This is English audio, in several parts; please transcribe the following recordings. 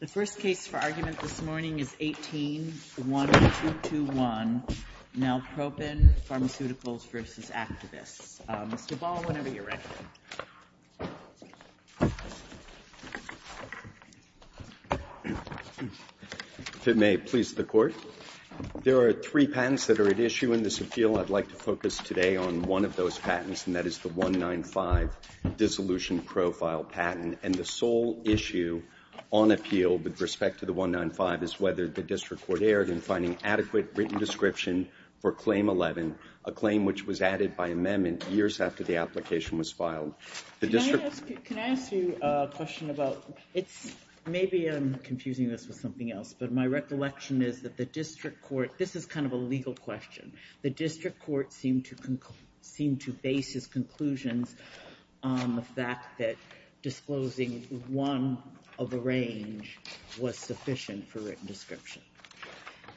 The first case for argument this morning is 18-1-221, Nalpropion Pharmaceuticals v. Actavis. Mr. Ball, whenever you're ready. If it may please the Court, there are three patents that are at issue in this appeal. I'd like to focus today on one of those patents, and that is the 195 dissolution profile patent, and the sole issue on appeal with respect to the 195 is whether the District Court erred in finding adequate written description for Claim 11, a claim which was added by amendment years after the application was filed. Can I ask you a question about, maybe I'm confusing this with something else, but my recollection is that the District Court, this is kind of a legal question, the District Court found that disclosing one of a range was sufficient for written description.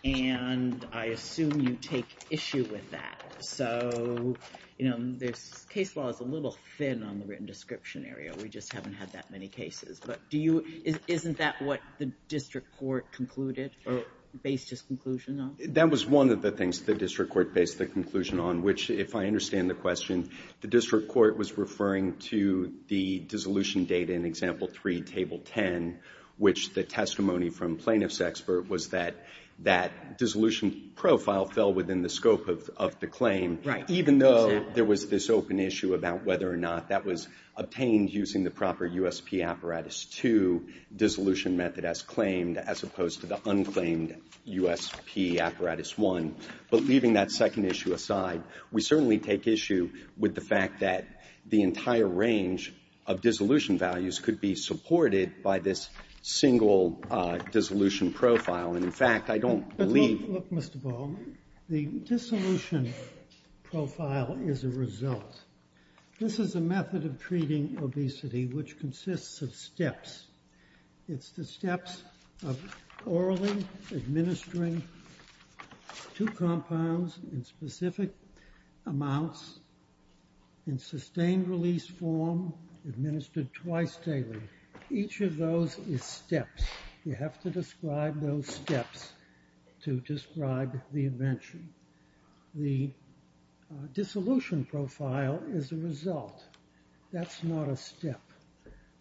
And I assume you take issue with that. So, you know, there's, case law is a little thin on the written description area. We just haven't had that many cases. But do you, isn't that what the District Court concluded or based its conclusion on? That was one of the things the District Court based the conclusion on, which, if I understand the question, the District Court was referring to the dissolution data in Example 3, Table 10, which the testimony from plaintiff's expert was that that dissolution profile fell within the scope of the claim, even though there was this open issue about whether or not that was obtained using the proper USP Apparatus 2 dissolution method as claimed as opposed to the unclaimed USP Apparatus 1. But leaving that second issue aside, we certainly take issue with the fact that the entire range of dissolution values could be supported by this single dissolution profile. And, in fact, I don't believe the dissolution profile is a result. This is a method of treating obesity which consists of steps. It's the steps of orally administering two compounds in specific amounts in sustained release form, administered twice daily. Each of those is steps. You have to describe those steps to describe the invention. The dissolution profile is a result. That's not a step.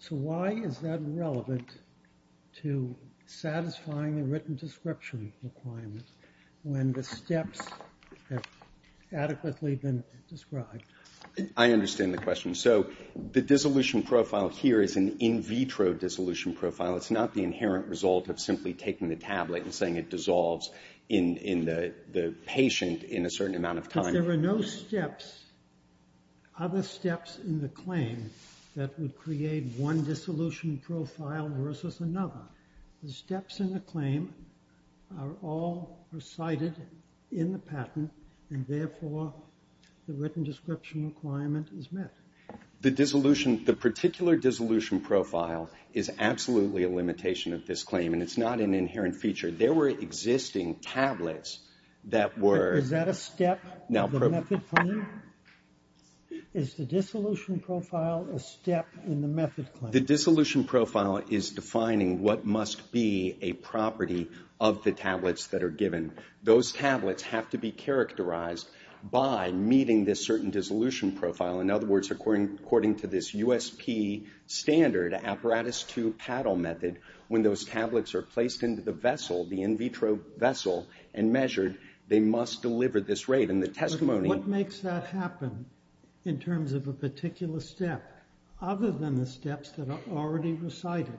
So why is that relevant to satisfying the written description requirement when the steps have adequately been described? I understand the question. So the dissolution profile here is an in vitro dissolution profile. It's not the inherent result of simply taking the tablet and saying it dissolves in the patient in a certain amount of time. There are no steps, other steps in the claim that would create one dissolution profile versus another. The steps in the claim are all recited in the patent, and therefore the written description requirement is met. The dissolution, the particular dissolution profile is absolutely a limitation of this claim, and it's not an inherent feature. There were existing tablets that were Is that a step? The method claim? Is the dissolution profile a step in the method claim? The dissolution profile is defining what must be a property of the tablets that are given. Those tablets have to be characterized by meeting this certain dissolution profile. In other words, according to this USP standard, apparatus two paddle method, when those tablets are placed into the vessel, the in vitro vessel, and measured, they must deliver this rate. And the testimony What makes that happen in terms of a particular step, other than the steps that are already recited?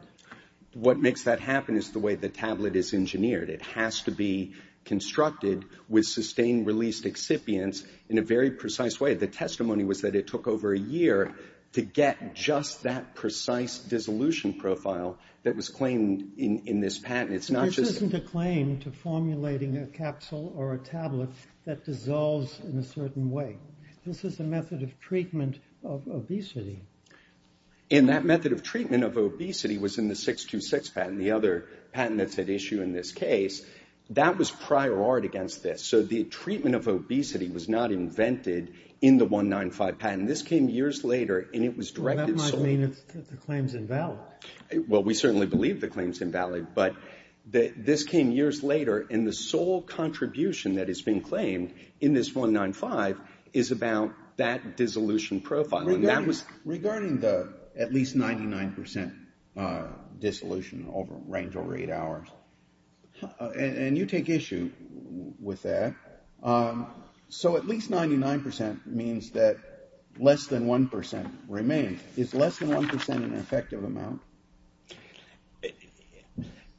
What makes that happen is the way the tablet is engineered. It has to be constructed with sustained released excipients in a very precise way. The testimony was that it took over a year to get just that precise dissolution profile that was claimed in this patent. This isn't a claim to formulating a capsule or a tablet that dissolves in a certain way. This is a method of treatment of obesity. And that method of treatment of obesity was in the 626 patent, the other patent that's at issue in this case. That was prior art against this. So the treatment of obesity was not invented in the 195 patent. This came years later and it was directed That might mean that the claim is invalid. Well, we certainly believe the claim is invalid, but this came years later and the sole contribution that is being claimed in this 195 is about that dissolution profile. Regarding the at least 99% dissolution range over eight hours, and you take issue with that, so at least 99% means that less than 1% remains. Is less than 1% an effective amount?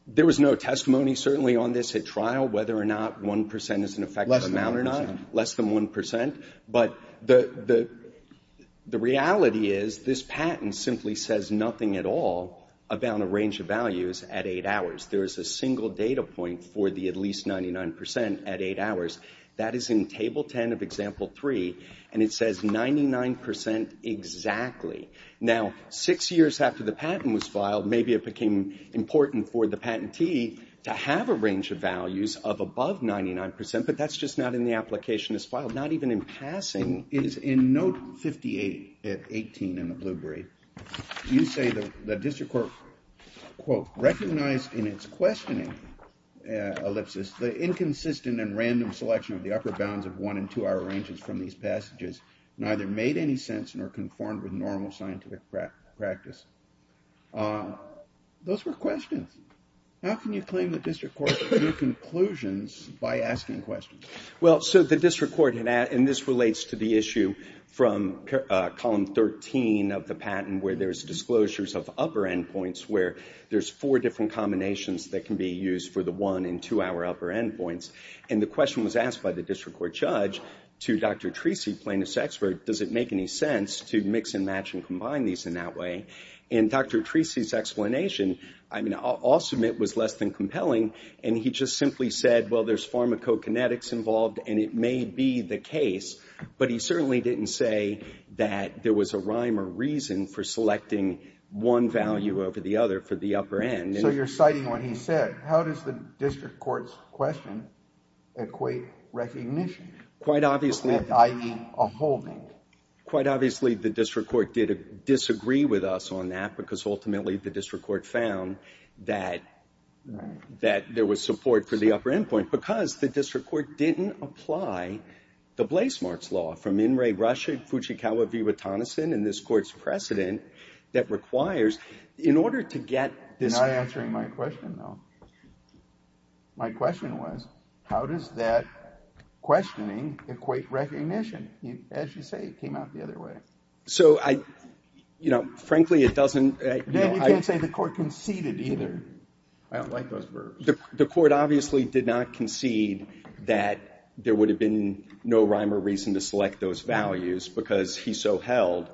There was no testimony certainly on this at trial whether or not 1% is an effective amount or not. Less than 1%. Less than 1%. But the reality is this patent simply says nothing at all about a range of values at eight hours. There is a single data point for the at least 99% at eight hours. That is in Table 10 of Example 3, and it says 99% exactly. Now, six years after the patent was filed, maybe it became important for the patentee to have a range of values of above 99%, but that's just not in the application as filed, not even in passing. It is in Note 58-18 in the Blueberry. You say the district court, quote, recognized in its questioning ellipsis the inconsistent and random selection of the upper bounds of one and two-hour ranges from these passages, neither made any sense nor conformed with normal scientific practice. Those were questions. How can you claim the district court's new conclusions by asking questions? Well, so the district court, and this relates to the issue from Column 13 of the patent where there's disclosures of upper endpoints where there's four different combinations that can be used for the one and two-hour upper endpoints. And the question was asked by the district court judge to Dr. Treacy, plaintiff's expert, does it make any sense to mix and match and combine these in that way? And Dr. Treacy's explanation, I mean, I'll submit was less than compelling, and he just simply said, well, there's pharmacokinetics involved, and it may be the case, but he certainly didn't say that there was a rhyme or reason for that. So you're citing what he said. How does the district court's question equate recognition, i.e. a holding? Quite obviously the district court did disagree with us on that because ultimately the district court found that there was support for the upper endpoint because the district court didn't apply the Blasemarks Law from In re Russia, Fuchikawa v. Watson and this court's precedent that requires, in order to get this question, though, my question was, how does that questioning equate recognition? As you say, it came out the other way. So I, you know, frankly, it doesn't. You can't say the court conceded either. I don't like those words. The court obviously did not concede that there would have been no rhyme or reason to select those values because he so held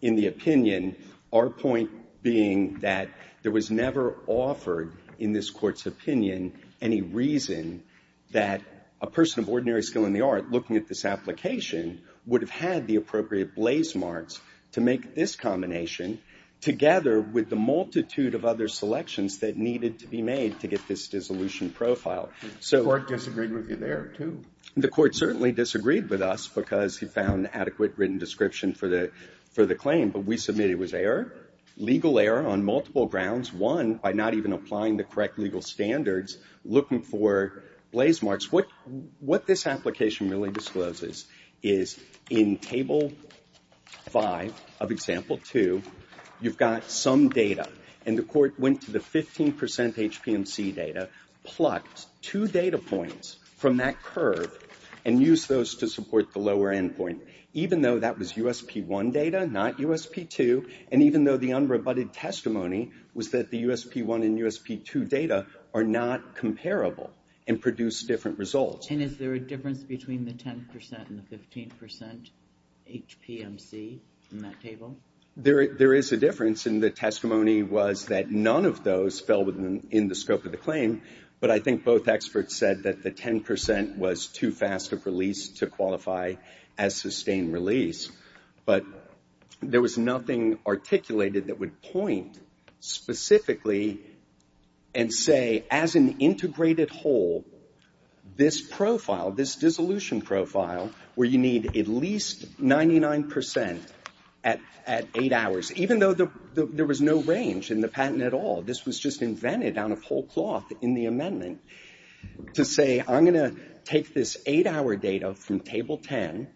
in the opinion, our point being that there was never offered in this court's opinion any reason that a person of ordinary skill in the art looking at this application would have had the appropriate Blasemarks to make this combination together with the multitude of other selections that needed to be made to get this dissolution profile. The court disagreed with you there, too. The court certainly disagreed with us because he found adequate written description for the claim. But we submitted it was error, legal error on multiple grounds. One, by not even applying the correct legal standards, looking for Blasemarks. What this application really discloses is in Table 5 of Example 2, you've got some data. And the court went to the 15 percent HPMC data, plucked two data points from that curve, and used those to support the lower end point. Even though that was USP-1 data, not USP-2, and even though the unrebutted testimony was that the USP-1 and USP-2 data are not comparable and produce different results. And is there a difference between the 10 percent and the 15 percent HPMC in that table? There is a difference, and the testimony was that none of those fell within the scope of the claim, but I think both experts said that the 10 percent was too fast of release to qualify as sustained release. But there was nothing articulated that would point specifically and say, as an integrated whole, this profile, this dissolution profile, where you need at least 99 percent at eight hours. Even though there was no range in the patent at all. This was just invented out of whole cloth in the amendment to say, I'm going to take this eight-hour data from Table 10,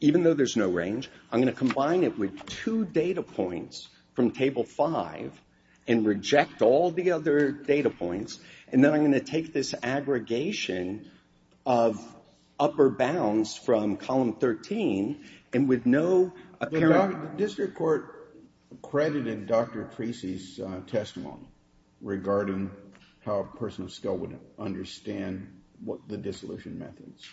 even though there's no range, I'm going to combine it with two data points from Table 5, and reject all the other data points, and then I'm going to take this aggregation of upper bounds from Column 13, and with no apparent... The district court credited Dr. Treacy's testimony regarding how a person of color could understand the dissolution methods.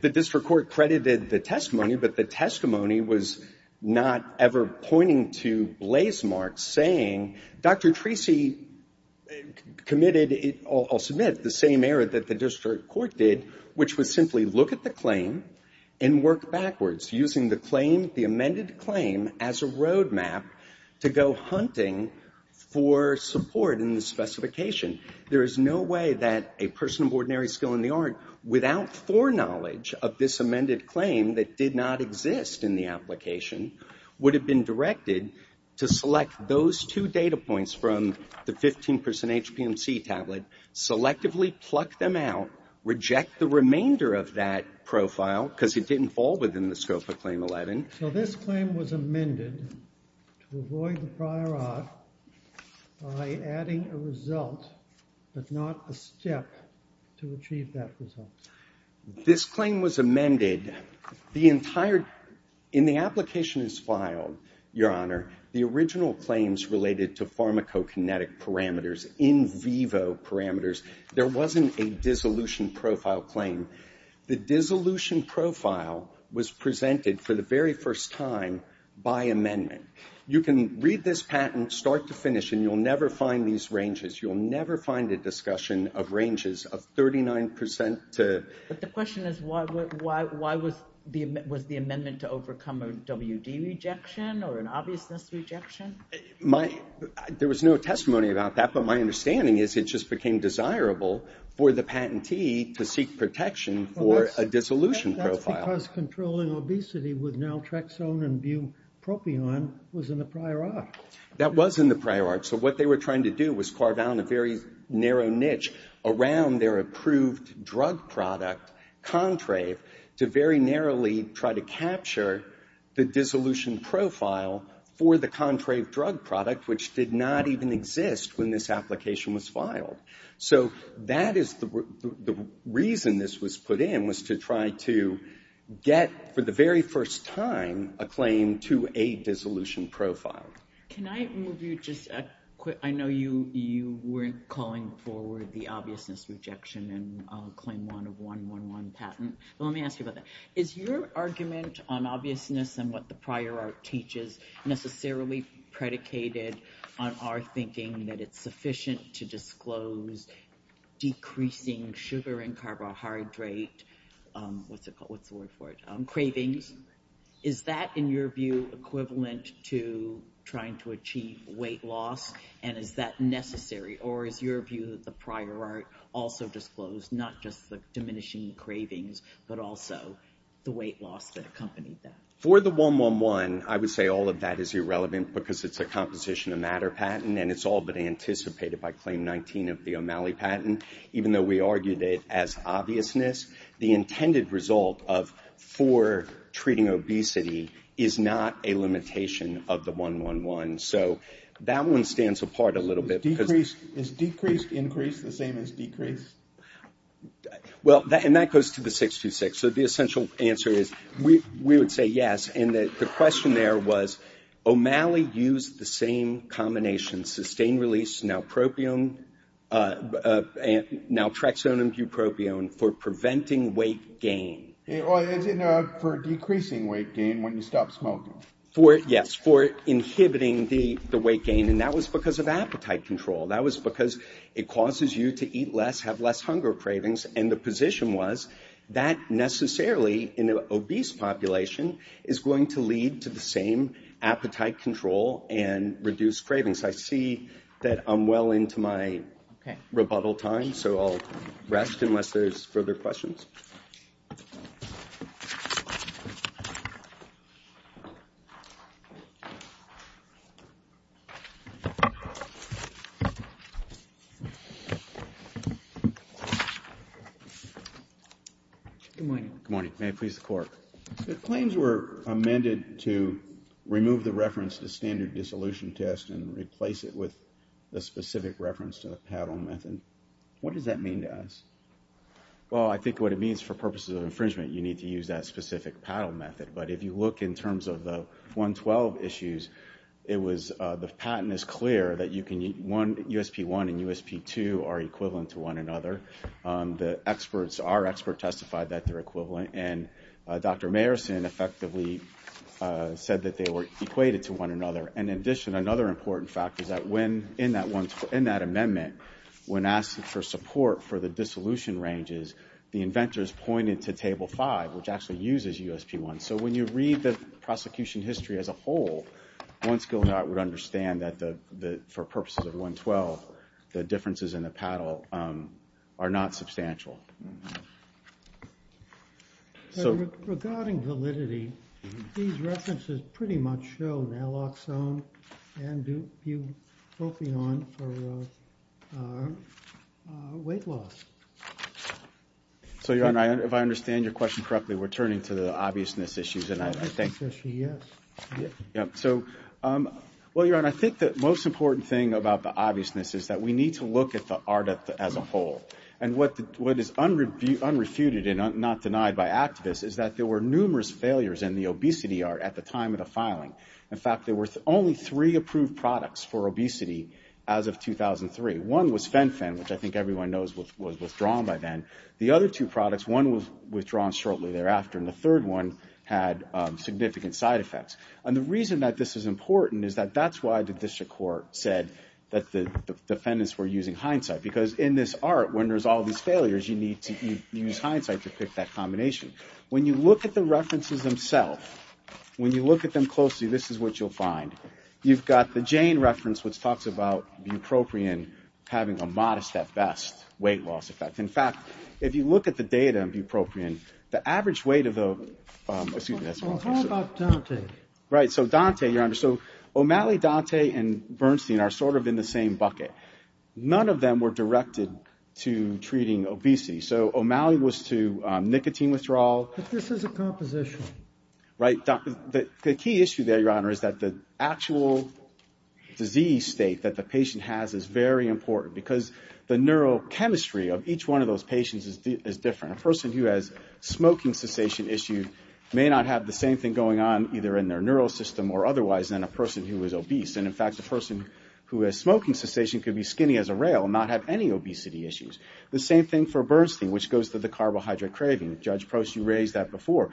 The district court credited the testimony, but the testimony was not ever pointing to blaze marks saying, Dr. Treacy committed, I'll submit, the same error that the district court did, which was simply look at the claim and work backwards, using the claim, the amended claim, as a roadmap to go hunting for support in the specification. There is no way that a person of ordinary skill in the art, without foreknowledge of this amended claim that did not exist in the application, would have been directed to select those two data points from the 15 percent HPMC tablet, selectively pluck them out, reject the remainder of that profile, because it didn't fall within the scope of Claim 11. So this claim was amended to avoid the prior art by adding a result, but not a step to achieve that result. This claim was amended. The entire, in the application as filed, Your Honor, the original claims related to pharmacokinetic parameters, in vivo parameters, there wasn't a dissolution profile claim. The dissolution profile was presented for the very first time by amendment. You can read this patent, start to finish, and you'll never find these ranges. You'll never find a discussion of ranges of 39 percent to... But the question is, why was the amendment to overcome a WD rejection or an obviousness rejection? There was no testimony about that, but my understanding is it just became desirable for the patentee to seek protection for a dissolution profile. That's because controlling obesity with naltrexone and bupropion was in the prior art. That was in the prior art. So what they were trying to do was carve out a very narrow niche around their approved drug product, Contrave, to very narrowly try to capture the dissolution profile for the Contrave drug product, which did not even exist when this was put in. So that is the reason this was put in, was to try to get, for the very first time, a claim to a dissolution profile. Can I move you just a quick... I know you weren't calling forward the obviousness rejection in Claim 1 of 111 patent, but let me ask you about that. Is your argument on obviousness and what the prior art teaches necessarily predicated on our thinking that it's sufficient to disclose decreasing sugar and carbohydrate cravings? Is that, in your view, equivalent to trying to achieve weight loss, and is that necessary? Or is your view that the prior art also disclosed not just the diminishing cravings, but also the weight loss that accompanied that? For the 111, I would say all of that is irrelevant because it's a Composition of Matter patent, and it's all but anticipated by Claim 19 of the O'Malley patent, even though we argued it as obviousness. The intended result for treating obesity is not a limitation of the 111. So that one stands apart a little bit. Is decreased increase the same as decreased? Well, and that goes to the 626. So the essential answer is we would say yes. And the question there was, O'Malley used the same combination, sustained-release naltrexone and bupropion, for preventing weight gain. For decreasing weight gain when you stop smoking. Yes, for inhibiting the weight gain, and that was because of appetite control. That was because it causes you to eat less, have less hunger cravings, and the necessarily in an obese population is going to lead to the same appetite control and reduced cravings. I see that I'm well into my rebuttal time, so I'll rest unless there's further questions. Good morning. Good morning. May it please the Court. The claims were amended to remove the reference to standard dissolution test and replace it with a specific reference to the paddle method. What does that mean to us? Well, I think what it means for purposes of infringement, you need to use that specific paddle method. But if you look in terms of the 112 issues, it was the patent is clear that USP-1 and USP-2 are equivalent to one another. Our experts testified that they're equivalent. And Dr. Mayerson effectively said that they were equated to one another. And in addition, another important fact is that in that amendment, when asked for support for the dissolution ranges, the inventors pointed to Table 5, which actually uses USP-1. So when you read the prosecution history as a whole, one skill dot would understand that for purposes of 112, the differences in the paddle are not substantial. Regarding validity, these references pretty much show Naloxone and weight loss. So, Your Honor, if I understand your question correctly, we're turning to the obviousness issues. I think there's a yes. Well, Your Honor, I think the most important thing about the obviousness is that we need to look at the art as a whole. And what is unrefuted and not denied by activists is that there were numerous failures in the obesity art at the time of the filing. In fact, there were only three approved products for obesity as of 2003. One was Fen-Phen, which I think everyone knows was withdrawn by then. The other two products, one was withdrawn shortly thereafter, and the third one had significant side effects. And the reason that this is important is that that's why the district court said that the defendants were using Hindsight. Because in this art, when there's all these failures, you need to use Hindsight to pick that combination. When you look at the references themselves, when you look at them closely, this is what you'll find. You've got the Jane reference, which talks about bupropion having a modest, at best, weight loss effect. In fact, if you look at the data on bupropion, the average weight of the — Excuse me. How about Dante? So Dante, Your Honor. So O'Malley, Dante, and Bernstein are sort of in the same bucket. None of them were directed to treating obesity. So O'Malley was to nicotine withdrawal. But this is a composition. Right. The key issue there, Your Honor, is that the actual disease state that the patient has is very important. Because the neurochemistry of each one of those patients is different. A person who has smoking cessation issues may not have the same thing going on either in their neural system or otherwise than a person who is obese. And, in fact, a person who has smoking cessation could be skinny as a rail and not have any obesity issues. The same thing for Bernstein, which goes to the carbohydrate craving. Judge Prost, you raised that before.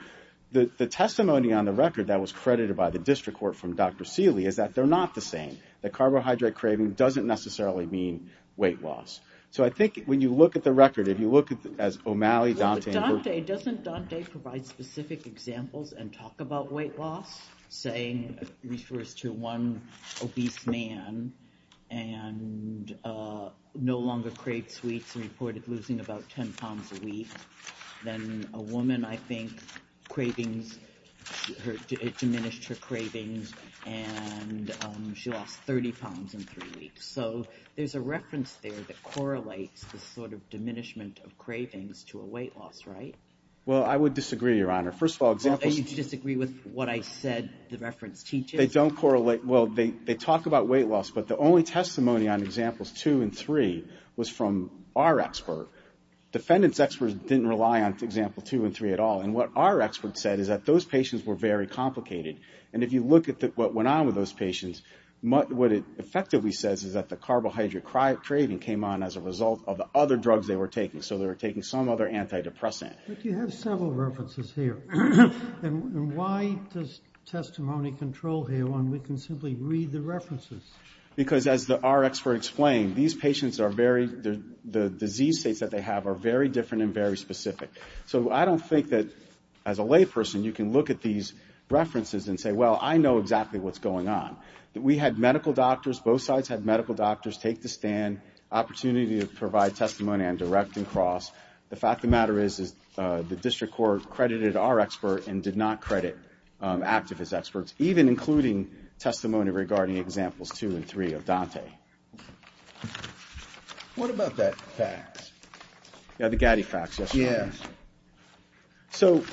The testimony on the record that was credited by the district court from Dr. Seeley is that they're not the same. That carbohydrate craving doesn't necessarily mean weight loss. So I think when you look at the record, if you look as O'Malley, Dante, and — But, Dante, doesn't Dante provide specific examples and talk about weight loss? Saying it refers to one obese man and no longer craves sweets and reported losing about 10 pounds a week. Then a woman, I think, cravings – diminished her cravings and she lost 30 pounds in three weeks. So there's a reference there that correlates the sort of diminishment of cravings to a weight loss, right? Well, I would disagree, Your Honor. First of all, examples – And you disagree with what I said the reference teaches? They don't correlate – well, they talk about weight loss, but the only testimony on examples two and three was from our expert. Defendants' experts didn't rely on example two and three at all. And what our expert said is that those patients were very complicated. And if you look at what went on with those patients, what it effectively says is that the carbohydrate craving came on as a result of the other drugs they were taking. So they were taking some other antidepressant. But you have several references here. And why does testimony control here when we can simply read the references? Because as our expert explained, these patients are very – the disease states that they have are very different and very specific. So I don't think that as a layperson you can look at these references and say, well, I know exactly what's going on. We had medical doctors – both sides had medical doctors take the stand, opportunity to provide testimony on direct and cross. The fact of the matter is the district court credited our expert and did not credit activist experts, even including testimony regarding examples two and three of Dante. What about that fax? Yeah, the Gatti fax yesterday. Yeah. So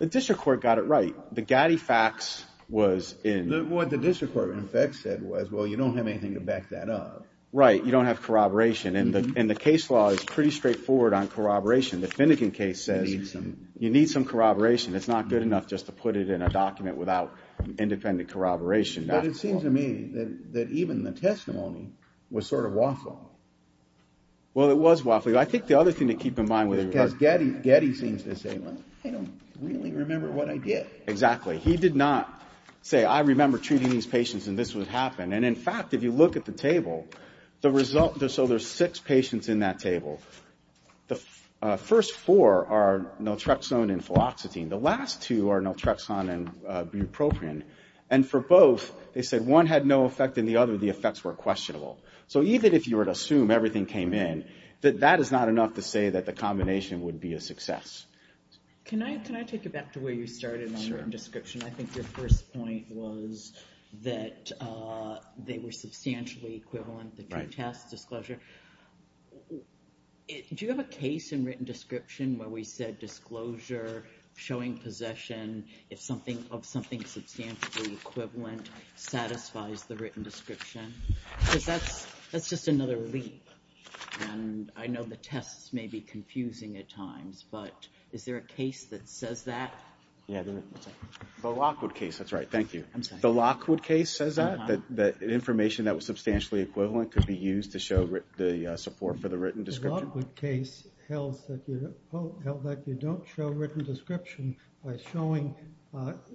the district court got it right. The Gatti fax was in – What the district court in effect said was, well, you don't have anything to back that up. Right. You don't have corroboration. And the case law is pretty straightforward on corroboration. The Finnegan case says you need some corroboration. It's not good enough just to put it in a document without independent corroboration. But it seems to me that even the testimony was sort of waffling. Well, it was waffling. I think the other thing to keep in mind was Gatti seems to say, well, I don't really remember what I did. Exactly. He did not say, I remember treating these patients and this would happen. And, in fact, if you look at the table, the result – so there's six patients in that table. The first four are naltrexone and fluoxetine. The last two are naltrexone and bupropion. And for both, they said one had no effect and the other, the effects were questionable. So even if you were to assume everything came in, that is not enough to say that the combination would be a success. Can I take you back to where you started on written description? I think your first point was that they were substantially equivalent, the two tests, disclosure. Do you have a case in written description where we said disclosure, showing possession of something substantially equivalent, satisfies the written description? Because that's just another leap. And I know the tests may be confusing at times, but is there a case that says that? Yeah. The Lockwood case. That's right. Thank you. The Lockwood case says that, that information that was substantially equivalent could be used to show the support for the written description? The Lockwood case held that you don't show written description by showing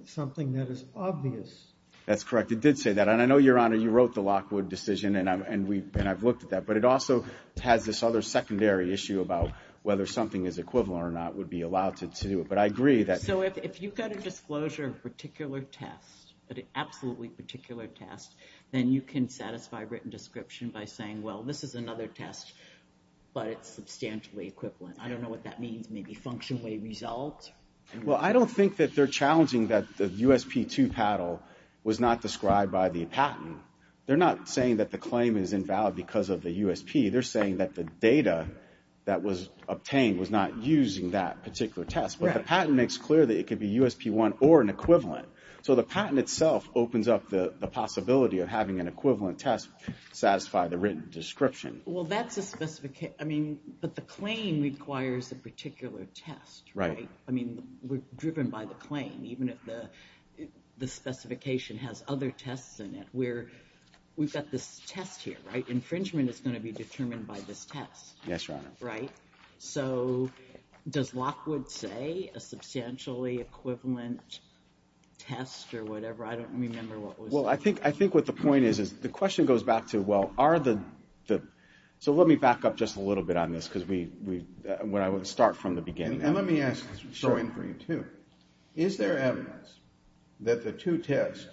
something that is obvious. That's correct. It did say that. And I know, Your Honor, you wrote the Lockwood decision, and I've looked at that. But it also has this other secondary issue about whether something is equivalent or not would be allowed to do it. But I agree that. So if you've got a disclosure of a particular test, an absolutely particular test, then you can satisfy written description by saying, well, this is another test, but it's substantially equivalent. I don't know what that means. Maybe functionally resolved? Well, I don't think that they're challenging that the USP2 paddle was not described by the patent. They're not saying that the claim is invalid because of the USP. They're saying that the data that was obtained was not using that particular test. But the patent makes clear that it could be USP1 or an equivalent. So the patent itself opens up the possibility of having an equivalent test satisfy the written description. Well, that's a specification. I mean, but the claim requires a particular test, right? Right. I mean, we're driven by the claim, even if the specification has other tests in it. We've got this test here, right? Infringement is going to be determined by this test. Yes, Your Honor. Right? So does Lockwood say a substantially equivalent test or whatever? I don't remember what was it. Well, I think what the point is, is the question goes back to, well, are the – so let me back up just a little bit on this because we – I want to start from the beginning. And let me ask this question for you, too. Is there evidence that the two tests,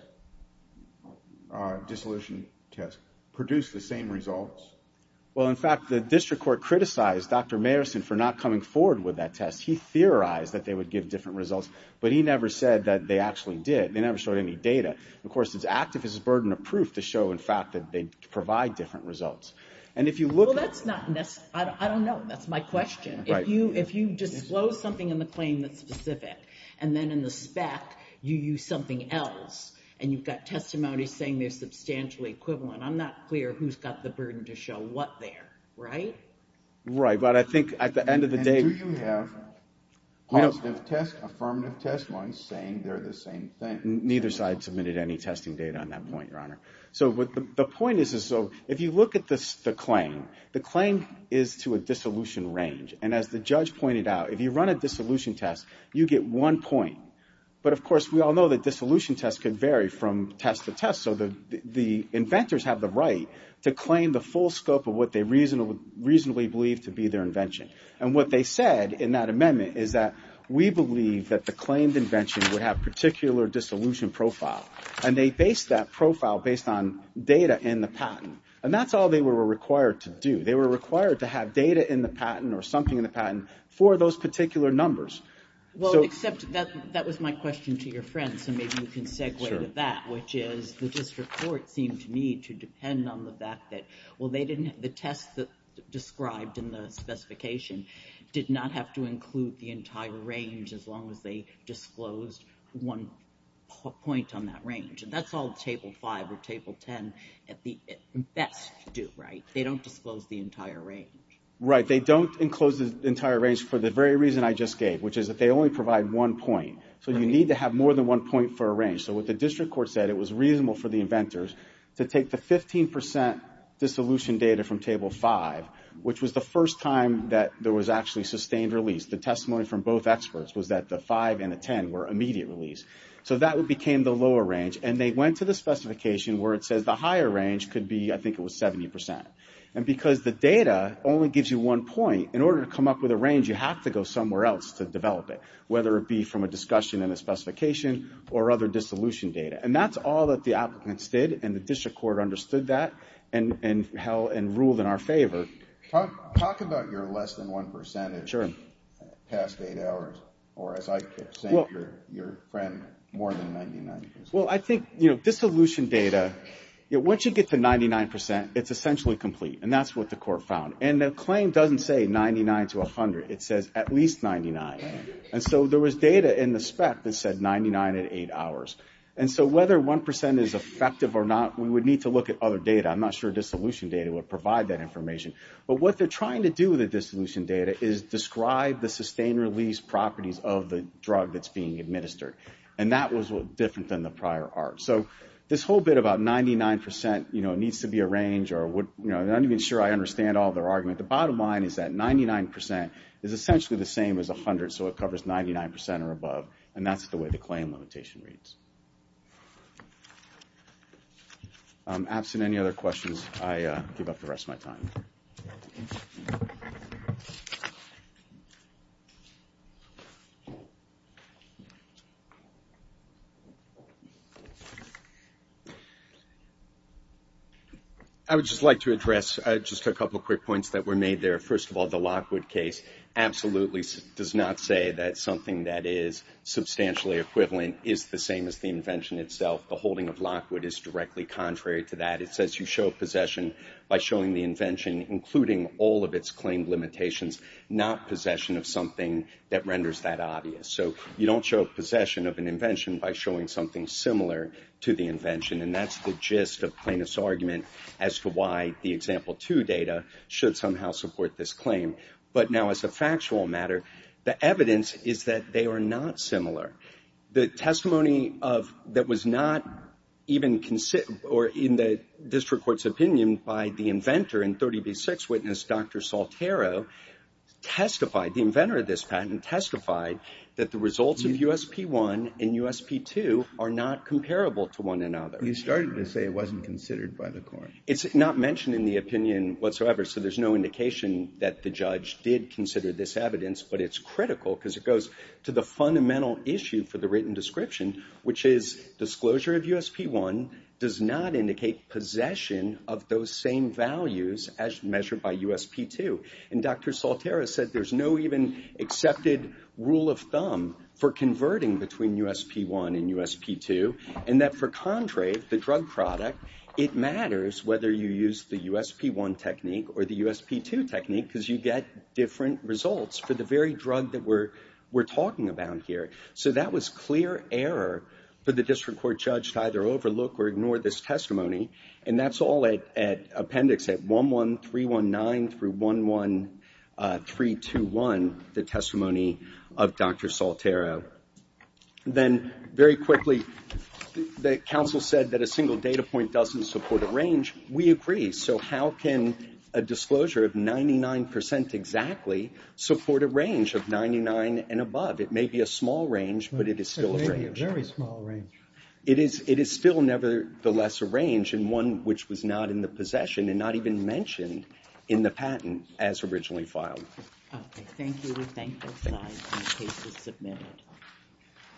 dissolution tests, produced the same results? Well, in fact, the district court criticized Dr. Mayerson for not coming forward with that test. He theorized that they would give different results, but he never said that they actually did. They never showed any data. And, of course, it's active as a burden of proof to show, in fact, that they provide different results. And if you look at – Well, that's not – I don't know. That's my question. Right. If you disclose something in the claim that's specific, and then in the spec you use something else, and you've got testimony saying they're substantially equivalent, I'm not clear who's got the burden to show what there. Right? Right. But I think at the end of the day – And do you have positive test, affirmative test ones saying they're the same thing? Neither side submitted any testing data on that point, Your Honor. So the point is, if you look at the claim, the claim is to a dissolution range. And as the judge pointed out, if you run a dissolution test, you get one point. But, of course, we all know that dissolution tests can vary from test to test, so the inventors have the right to claim the full scope of what they reasonably believe to be their invention. And what they said in that amendment is that, we believe that the claimed invention would have particular dissolution profile. And they based that profile based on data in the patent. And that's all they were required to do. They were required to have data in the patent or something in the patent for those particular numbers. Well, except that was my question to your friend, so maybe you can segue to that, which is the district court seemed to me to depend on the fact that, well, they didn't – the test described in the specification did not have to include the entire range as long as they disclosed one point on that range. And that's all Table 5 or Table 10 at best do, right? They don't disclose the entire range. Right. They don't enclose the entire range for the very reason I just gave, which is that they only provide one point. So you need to have more than one point for a range. So what the district court said, it was reasonable for the inventors to take the 15% dissolution data from Table 5, which was the first time that there was actually sustained release. The testimony from both experts was that the 5 and the 10 were immediate release. So that became the lower range. And they went to the specification where it says the higher range could be, I think it was 70%. And because the data only gives you one point, in order to come up with a range, you have to go somewhere else to develop it, whether it be from a discussion in the specification or other dissolution data. And that's all that the applicants did. And the district court understood that and ruled in our favor. Talk about your less than 1% in the past eight hours, or as I keep saying, your friend, more than 99%. Well, I think, you know, dissolution data, once you get to 99%, it's essentially complete. And that's what the court found. And the claim doesn't say 99 to 100. It says at least 99. And so there was data in the spec that said 99 at eight hours. And so whether 1% is effective or not, we would need to look at other data. I'm not sure dissolution data would provide that information. But what they're trying to do with the dissolution data is describe the sustained release properties of the drug that's being administered. And that was different than the prior art. So this whole bit about 99%, you know, needs to be a range, or I'm not even sure I understand all their argument. The bottom line is that 99% is essentially the same as 100, so it covers 99% or above. And that's the way the claim limitation reads. Absent any other questions, I give up the rest of my time. I would just like to address just a couple quick points that were made there. First of all, the Lockwood case absolutely does not say that something that is substantially equivalent is the same as the invention itself. The holding of Lockwood is directly contrary to that. It says you show possession by showing the invention, including all of its claim limitations, not possession of something that renders that obvious. So you don't show possession of an invention by showing something similar to the invention. And that's the gist of plaintiff's argument as to why the example two data should somehow support this claim. But now as a factual matter, the evidence is that they are not similar. The testimony that was not even considered, or in the district court's opinion by the inventor and 30B6 witness, Dr. Saltero, testified, the inventor of this patent testified, that the results of USP1 and USP2 are not comparable to one another. You started to say it wasn't considered by the court. It's not mentioned in the opinion whatsoever, so there's no indication that the judge did consider this evidence, but it's critical because it goes to the fundamental issue for the written description, which is disclosure of USP1 does not indicate possession of those same values as measured by USP2. And Dr. Saltero said there's no even accepted rule of thumb for converting between USP1 and USP2, and that for Contrave, the drug product, it matters whether you use the USP1 technique or the USP2 technique because you get different results for the very drug that we're talking about here. So that was clear error for the district court judge to either overlook or ignore this testimony, and that's all at appendix 11319 through 11321, the testimony of Dr. Saltero. Then very quickly, the counsel said that a single data point doesn't support a range. We agree. So how can a disclosure of 99% exactly support a range of 99 and above? It may be a small range, but it is still a range. A very small range. It is still nevertheless a range, and one which was not in the possession and not even mentioned in the patent as originally filed. Okay. Thank you. We thank you. The case is submitted.